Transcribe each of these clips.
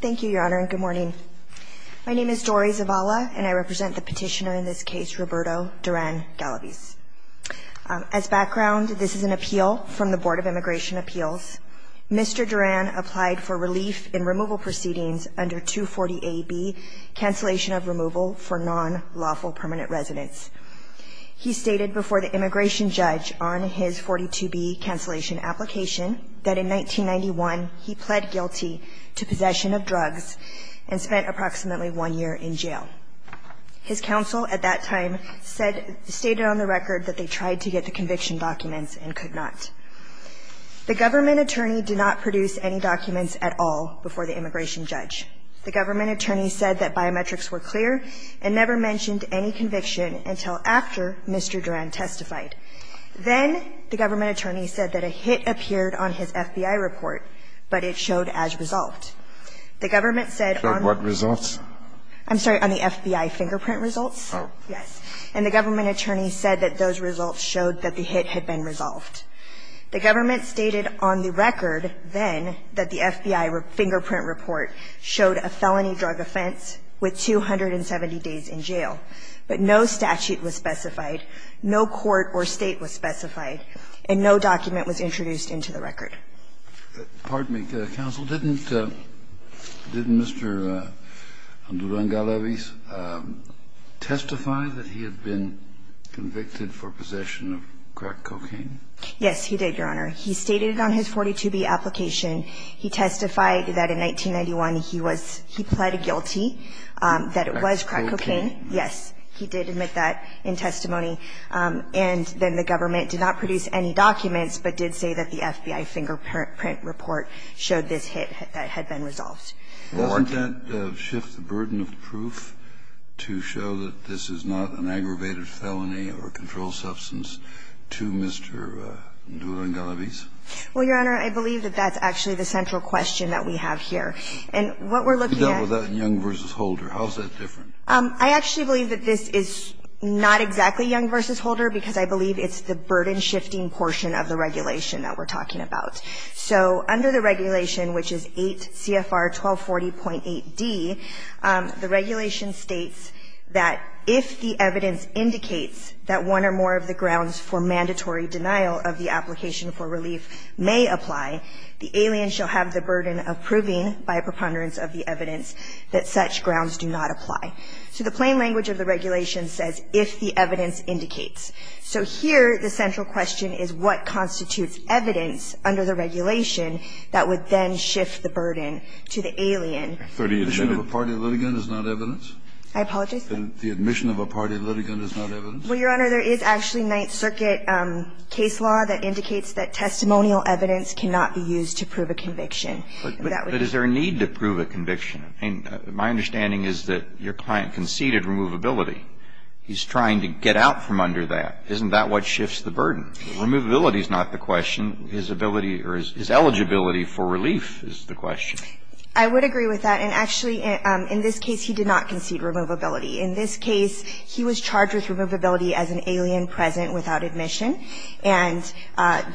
Thank you, Your Honor, and good morning. My name is Dori Zavala, and I represent the petitioner in this case, Roberto Duran-Galaviz. As background, this is an appeal from the Board of Immigration Appeals. Mr. Duran applied for relief in removal proceedings under 240a)(b, cancellation of removal for non-lawful permanent residents. He stated before the immigration judge on his 42b cancellation application that in 1991 he pled guilty to possession of drugs and spent approximately one year in jail. His counsel at that time stated on the record that they tried to get the conviction documents and could not. The government attorney did not produce any documents at all before the immigration judge. The government attorney said that biometrics were clear and never mentioned any conviction until after Mr. Duran testified. Then the government attorney said that a hit appeared on his FBI report, but it showed as resolved. The government said on the FBI fingerprint results. And the government attorney said that those results showed that the hit had been resolved. The government stated on the record then that the FBI fingerprint report showed a felony drug offense with 270 days in jail, but no statute was specified, no court or State was specified, and no document was introduced into the record. Kennedy, counsel, didn't Mr. Duran Galavis testify that he had been convicted for possession of crack cocaine? Yes, he did, Your Honor. He stated it on his 42b application. He testified that in 1991 he was he pled guilty that it was crack cocaine. Yes. He did admit that in testimony. And then the government did not produce any documents, but did say that the FBI fingerprint report showed this hit that had been resolved. Doesn't that shift the burden of proof to show that this is not an aggravated felony or controlled substance to Mr. Duran Galavis? Well, Your Honor, I believe that that's actually the central question that we have here. And what we're looking at You dealt with that in Young v. Holder. How is that different? I actually believe that this is not exactly Young v. Holder because I believe it's the burden-shifting portion of the regulation that we're talking about. So under the regulation, which is 8 CFR 1240.8d, the regulation states that if the evidence indicates that one or more of the grounds for mandatory denial of the application for relief may apply, the alien shall have the burden of proving by preponderance of the evidence that such grounds do not apply. So the plain language of the regulation says if the evidence indicates. So here the central question is what constitutes evidence under the regulation that would then shift the burden to the alien. The admission of a party litigant is not evidence? I apologize? The admission of a party litigant is not evidence? Well, Your Honor, there is actually Ninth Circuit case law that indicates that testimonial evidence cannot be used to prove a conviction. But is there a need to prove a conviction? I mean, my understanding is that your client conceded removability. He's trying to get out from under that. Isn't that what shifts the burden? Removability is not the question. His ability or his eligibility for relief is the question. I would agree with that. And actually, in this case, he did not concede removability. In this case, he was charged with removability as an alien present without admission, and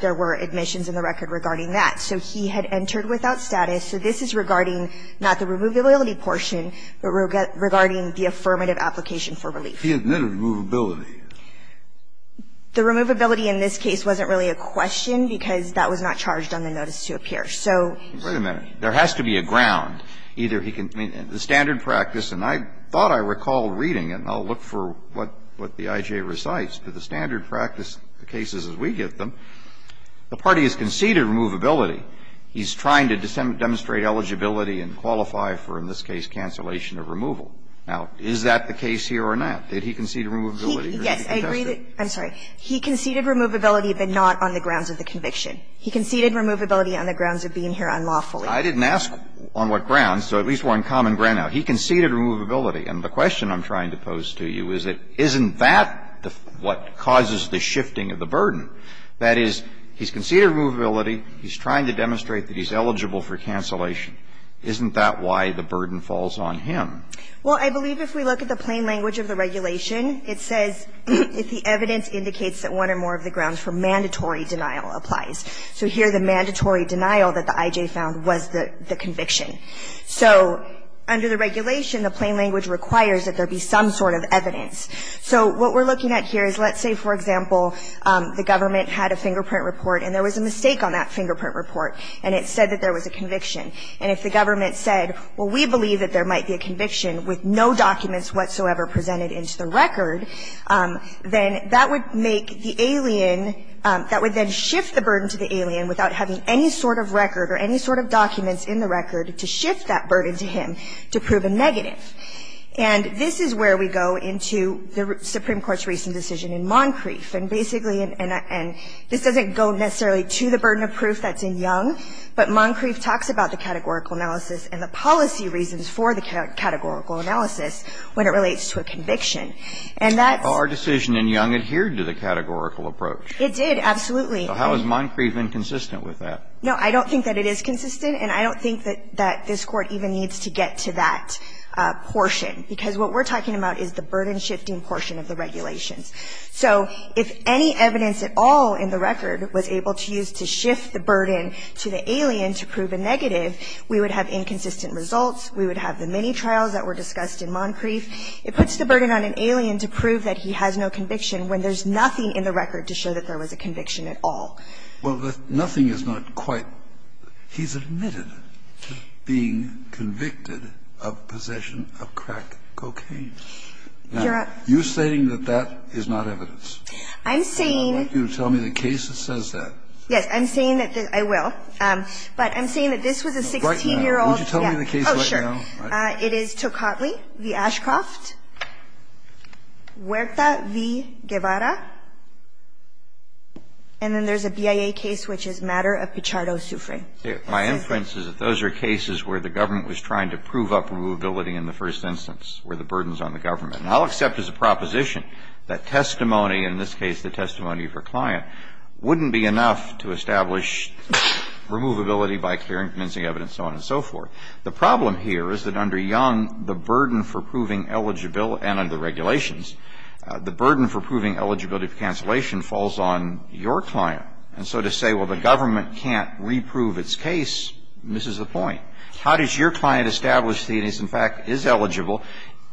there were admissions in the record regarding that. So he had entered without status. So this is regarding not the removability portion, but regarding the affirmative application for relief. He admitted removability. The removability in this case wasn't really a question, because that was not charged on the notice to appear. So he was not charged. Wait a minute. There has to be a ground. Either he can be the standard practice, and I thought I recalled reading it, and I'll look for what the I.J. recites, but the standard practice cases as we give them, the party has conceded removability. He's trying to demonstrate eligibility and qualify for, in this case, cancellation of removal. Now, is that the case here or not? Did he concede removability? Yes, I agree that he conceded removability, but not on the grounds of the conviction. He conceded removability on the grounds of being here unlawfully. I didn't ask on what grounds, so at least we're on common ground now. He conceded removability. And the question I'm trying to pose to you is that isn't that what causes the shifting of the burden? That is, he's conceded removability, he's trying to demonstrate that he's eligible for cancellation. Isn't that why the burden falls on him? Well, I believe if we look at the plain language of the regulation, it says if the evidence indicates that one or more of the grounds for mandatory denial applies. So here the mandatory denial that the I.J. found was the conviction. So under the regulation, the plain language requires that there be some sort of evidence. So what we're looking at here is let's say, for example, the government had a fingerprint report and there was a mistake on that fingerprint report, and it said that there was a conviction, and if the government said, well, we believe that there might be a conviction with no documents whatsoever presented into the record, then that would make the alien – that would then shift the burden to the alien without having any sort of record or any sort of documents in the record to shift that burden to him to prove a negative. And this is where we go into the Supreme Court's recent decision in Moncrief. And basically – and this doesn't go necessarily to the burden of proof that's in Young, but Moncrief talks about the categorical analysis and the policy reasons for the categorical analysis when it relates to a conviction. And that's – But our decision in Young adhered to the categorical approach. It did, absolutely. So how is Moncrief inconsistent with that? No, I don't think that it is consistent, and I don't think that this Court even needs to get to that portion, because what we're talking about is the burden-shifting portion of the regulations. So if any evidence at all in the record was able to use to shift the burden to the alien to prove a negative, we would have inconsistent results, we would have the many trials that were discussed in Moncrief. It puts the burden on an alien to prove that he has no conviction when there's nothing in the record to show that there was a conviction at all. Well, nothing is not quite – he's admitted to being convicted of possession of crack cocaine. You're saying that that is not evidence. I'm saying – I want you to tell me the case that says that. Yes. I'm saying that this – I will. But I'm saying that this was a 16-year-old – Would you tell me the case right now? Oh, sure. It is Tocatli v. Ashcroft, Huerta v. Guevara. And then there's a BIA case which is Matter of Pichardo v. Soufriere. My inference is that those are cases where the government was trying to prove up removability in the first instance, where the burden is on the government. And I'll accept as a proposition that testimony, in this case the testimony of a client, wouldn't be enough to establish removability by carrying convincing evidence, so on and so forth. The problem here is that under Young, the burden for proving eligible – and under the regulations, the burden for proving eligibility for cancellation falls on your client. And so to say, well, the government can't reprove its case, misses the point. How does your client establish that he is, in fact, is eligible,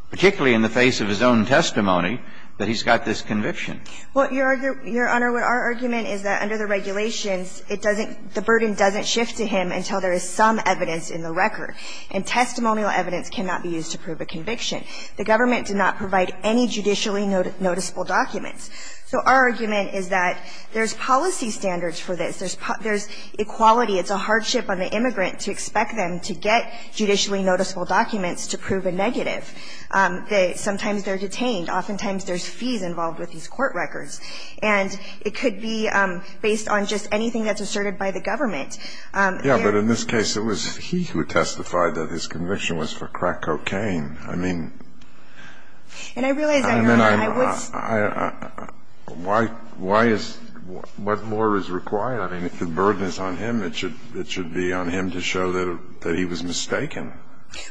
particularly in the face of his own testimony, that he's got this conviction? Well, Your Honor, our argument is that under the regulations, it doesn't – the burden doesn't shift to him until there is some evidence in the record. And testimonial evidence cannot be used to prove a conviction. The government did not provide any judicially noticeable documents. So our argument is that there's policy standards for this. There's equality. It's a hardship on the immigrant to expect them to get judicially noticeable documents to prove a negative. Sometimes they're detained. Oftentimes there's fees involved with these court records. And it could be based on just anything that's asserted by the government. There are other cases where the government is trying to prove eligible, but it's not going to work. And I realize, Your Honor, I was – I mean, I – why is – what more is required? I mean, if the burden is on him, it should be on him to show that he was mistaken.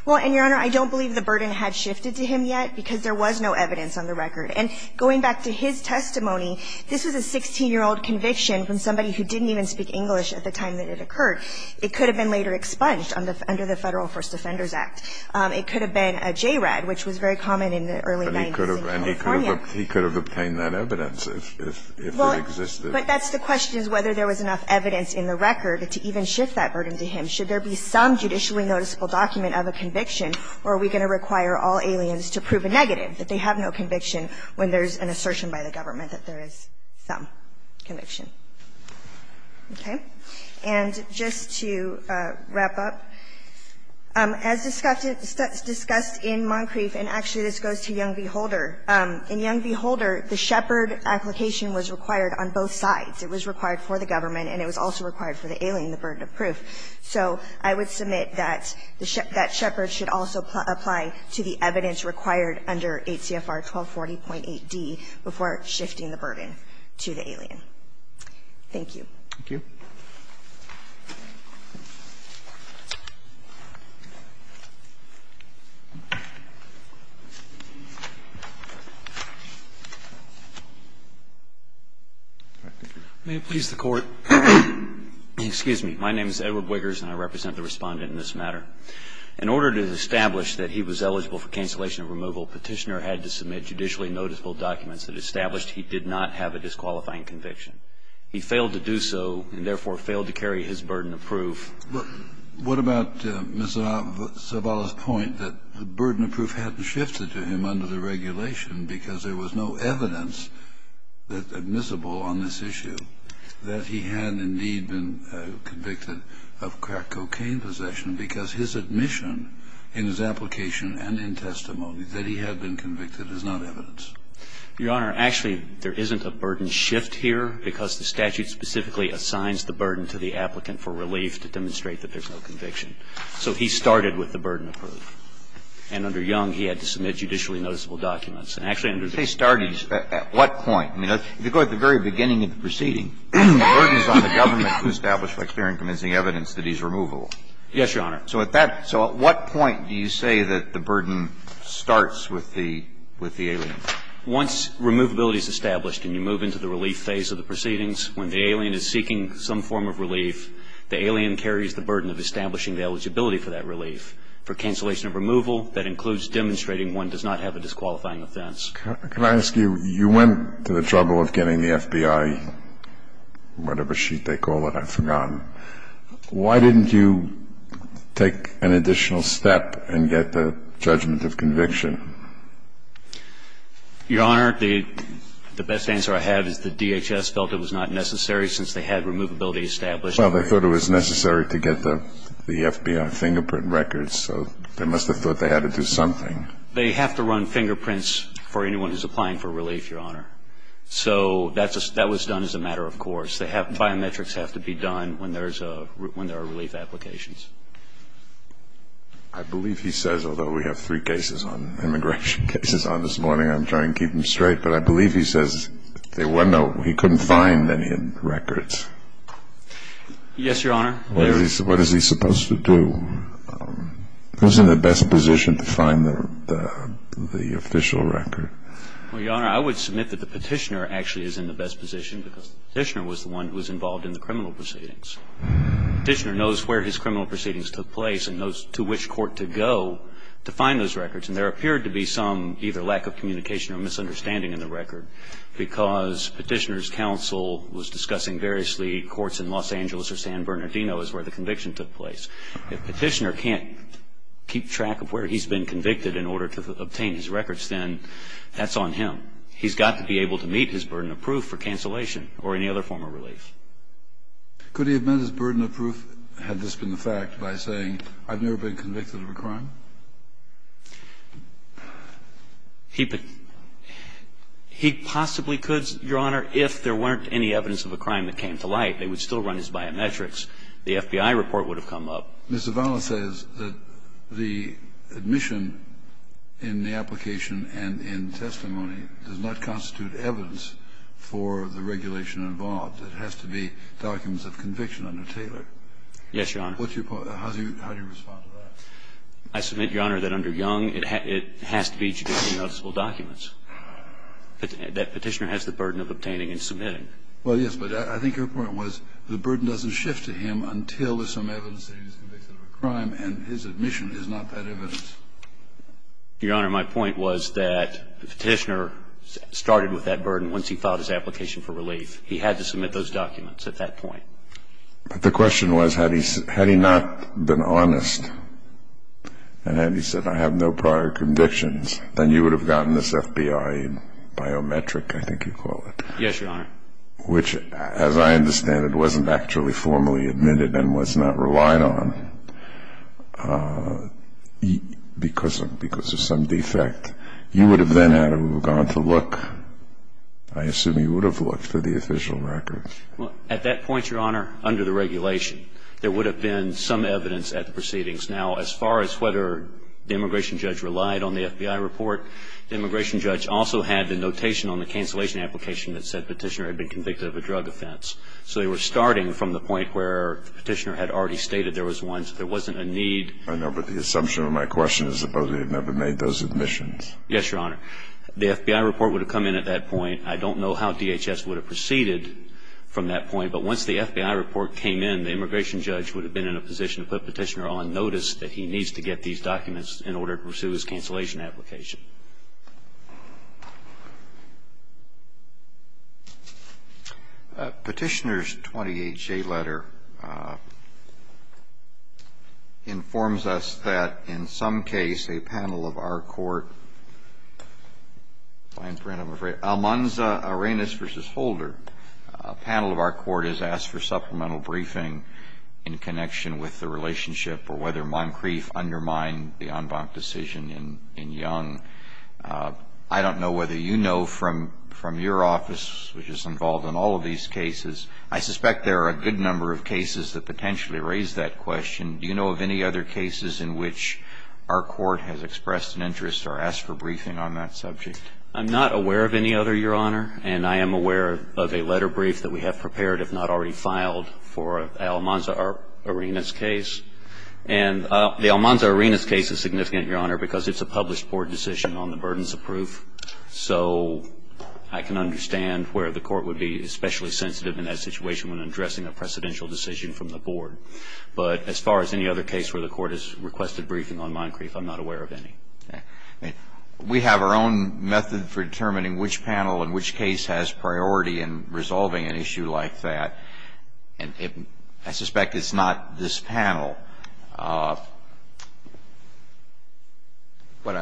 Well, and, Your Honor, I don't believe the burden had shifted to him yet, because there was no evidence on the record. And going back to his testimony, this was a 16-year-old conviction from somebody who didn't even speak English at the time that it occurred. It could have been later expunged under the Federal First Defenders Act. It could have been a JRAD, which was very common in the early 90s in California. And he could have obtained that evidence if it existed. Well, but that's the question, is whether there was enough evidence in the record to even shift that burden to him. Should there be some judicially noticeable document of a conviction, or are we going to require all aliens to prove a negative, that they have no conviction when there's an assertion by the government that there is some conviction? Okay. And just to wrap up, as discussed in Moncrief, and actually this goes to Young v. Holder. In Young v. Holder, the Shepherd application was required on both sides. It was required for the government, and it was also required for the alien, the burden of proof. So I would submit that the Shepherd should also apply to the evidence required under 8 CFR 1240.8d before shifting the burden to the alien. Thank you. May it please the Court. Excuse me. My name is Edward Wiggers, and I represent the Respondent in this matter. In order to establish that he was eligible for cancellation of removal, Petitioner had to submit judicially noticeable documents that established he did not have a disqualifying conviction. He failed to do so and, therefore, failed to carry his burden of proof. What about Ms. Zavala's point that the burden of proof hadn't shifted to him under the regulation because there was no evidence admissible on this issue, that he had indeed been convicted of crack cocaine possession because his admission in his application and in testimony that he had been convicted is not evidence? Your Honor, actually, there isn't a burden shift here because the statute specifically assigns the burden to the applicant for relief to demonstrate that there's no conviction. So he started with the burden of proof. And under Young, he had to submit judicially noticeable documents. And actually, under the case, he started at what point? I mean, if you go to the very beginning of the proceeding, the burden is on the government to establish by clear and convincing evidence that he's removable. Yes, Your Honor. So at that so at what point do you say that the burden starts with the alien? Once removability is established and you move into the relief phase of the proceedings, when the alien is seeking some form of relief, the alien carries the burden of establishing the eligibility for that relief. For cancellation of removal, that includes demonstrating one does not have a disqualifying offense. Can I ask you, you went to the trouble of getting the FBI, whatever sheet they call it, I've forgotten. Why didn't you take an additional step and get the judgment of conviction? Your Honor, the best answer I have is the DHS felt it was not necessary since they had removability established. Well, they thought it was necessary to get the FBI fingerprint records, so they must have thought they had to do something. They have to run fingerprints for anyone who's applying for relief, Your Honor. So that was done as a matter of course. Biometrics have to be done when there are relief applications. I believe he says, although we have three immigration cases on this morning, I'm trying to keep him straight, but I believe he says he couldn't find any records. Yes, Your Honor. What is he supposed to do? Who's in the best position to find the official record? Well, Your Honor, I would submit that the petitioner actually is in the best position because the petitioner was the one who was involved in the criminal proceedings. Petitioner knows where his criminal proceedings took place and knows to which court to go to find those records, and there appeared to be some either lack of communication or misunderstanding in the record because petitioner's counsel was discussing variously courts in Los Angeles or San Bernardino is where the conviction took place. If petitioner can't keep track of where he's been convicted in order to obtain his records, then that's on him. He's got to be able to meet his burden of proof for cancellation or any other form of relief. Could he have met his burden of proof had this been the fact by saying I've never been convicted of a crime? He possibly could, Your Honor, if there weren't any evidence of a crime that came to light. They would still run his biometrics. The FBI report would have come up. Mr. Valle says that the admission in the application and in testimony does not constitute evidence for the regulation involved. It has to be documents of conviction under Taylor. Yes, Your Honor. What's your point? How do you respond to that? I submit, Your Honor, that under Young, it has to be judicially noticeable documents. Petitioner has the burden of obtaining and submitting. Well, yes, but I think your point was the burden doesn't shift to him until there's some evidence that he was convicted of a crime and his admission is not that evidence. Your Honor, my point was that petitioner started with that burden once he filed his application for relief. He had to submit those documents at that point. But the question was had he not been honest and had he said I have no prior convictions, then you would have gotten this FBI biometric, I think you call it. Yes, Your Honor. Which, as I understand it, wasn't actually formally admitted and was not relied on because of some defect. You would have then had to have gone to look. I assume you would have looked for the official records. Well, at that point, Your Honor, under the regulation, there would have been some evidence at the proceedings. Now, as far as whether the immigration judge relied on the FBI report, the immigration judge also had the notation on the cancellation application that said petitioner had been convicted of a drug offense. So they were starting from the point where the petitioner had already stated there was one, so there wasn't a need. I know, but the assumption of my question is that they had never made those admissions. Yes, Your Honor. The FBI report would have come in at that point. I don't know how DHS would have proceeded from that point, but once the FBI report came in, the immigration judge would have been in a position to put petitioner on notice that he needs to get these documents in order to pursue his cancellation application. Petitioner's 28-J letter informs us that in some case a panel of our court, Almanza Arenas v. Holder, a panel of our court has asked for supplemental briefing in connection with the relationship or whether Moncrief undermined the en banc decision in Young. I don't know whether you know from your office, which is involved in all of these cases, I suspect there are a good number of cases that potentially raise that question. Do you know of any other cases in which our court has expressed an interest or asked for briefing on that subject? I'm not aware of any other, Your Honor. And I am aware of a letter brief that we have prepared, if not already filed, for Almanza Arenas' case. And the Almanza Arenas' case is significant, Your Honor, because it's a published board decision on the burdens of proof. So I can understand where the court would be especially sensitive in that situation when addressing a precedential decision from the board. But as far as any other case where the court has requested briefing on Moncrief, I'm not aware of any. We have our own method for determining which panel in which case has priority in resolving an issue like that. And I suspect it's not this panel. But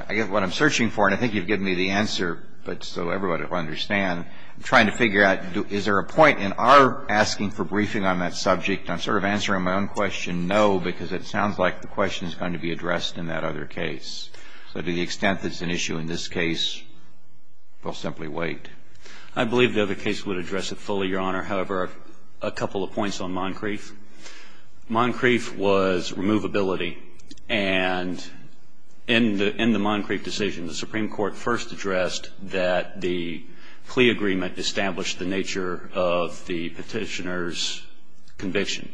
I guess what I'm searching for, and I think you've given me the answer, but so everybody will understand, I'm trying to figure out is there a point in our asking for briefing on that subject? I'm sort of answering my own question, no, because it sounds like the question is going to be addressed in that other case. So to the extent that it's an issue in this case, we'll simply wait. I believe the other case would address it fully, Your Honor. However, a couple of points on Moncrief. Moncrief was removability. And in the Moncrief decision, the Supreme Court first addressed that the plea agreement established the nature of the petitioner's conviction.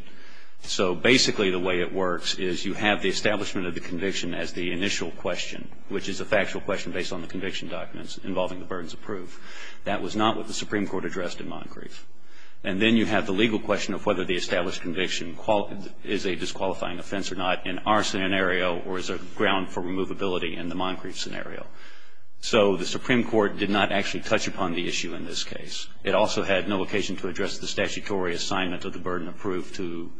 So basically the way it works is you have the establishment of the conviction as the initial question, which is a factual question based on the conviction documents involving the burdens of proof. That was not what the Supreme Court addressed in Moncrief. And then you have the legal question of whether the established conviction is a disqualifying offense or not in our scenario or is a ground for removability in the Moncrief scenario. So the Supreme Court did not actually touch upon the issue in this case. It also had no occasion to address the statutory assignment of the burden of proof to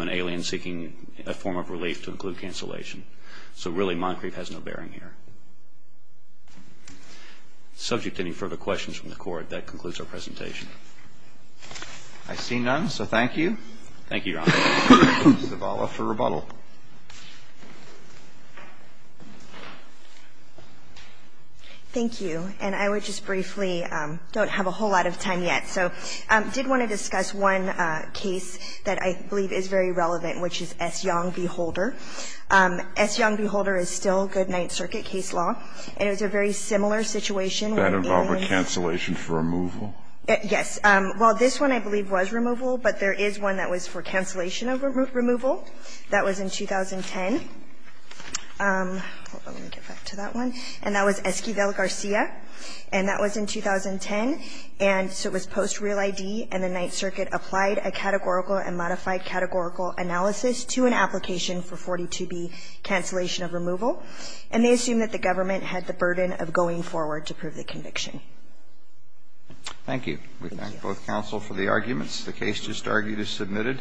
an alien seeking a form of relief to include cancellation. So really Moncrief has no bearing here. Subject to any further questions from the Court, that concludes our presentation. Roberts. I see none, so thank you. Thank you, Your Honor. Zavala for rebuttal. Thank you. And I would just briefly don't have a whole lot of time yet. So I did want to discuss one case that I believe is very relevant, which is S. Young v. Holder. S. Young v. Holder is still good Ninth Circuit case law. And it was a very similar situation. That involved a cancellation for removal? Yes. Well, this one I believe was removal, but there is one that was for cancellation of removal. That was in 2010. Let me get back to that one. And that was Esquivel-Garcia. And that was in 2010. And so it was post real ID, and the Ninth Circuit applied a categorical and modified categorical analysis to an application for 42B cancellation of removal, and they assumed that the government had the burden of going forward to prove the conviction. Thank you. We thank both counsel for the arguments. The case just argued is submitted.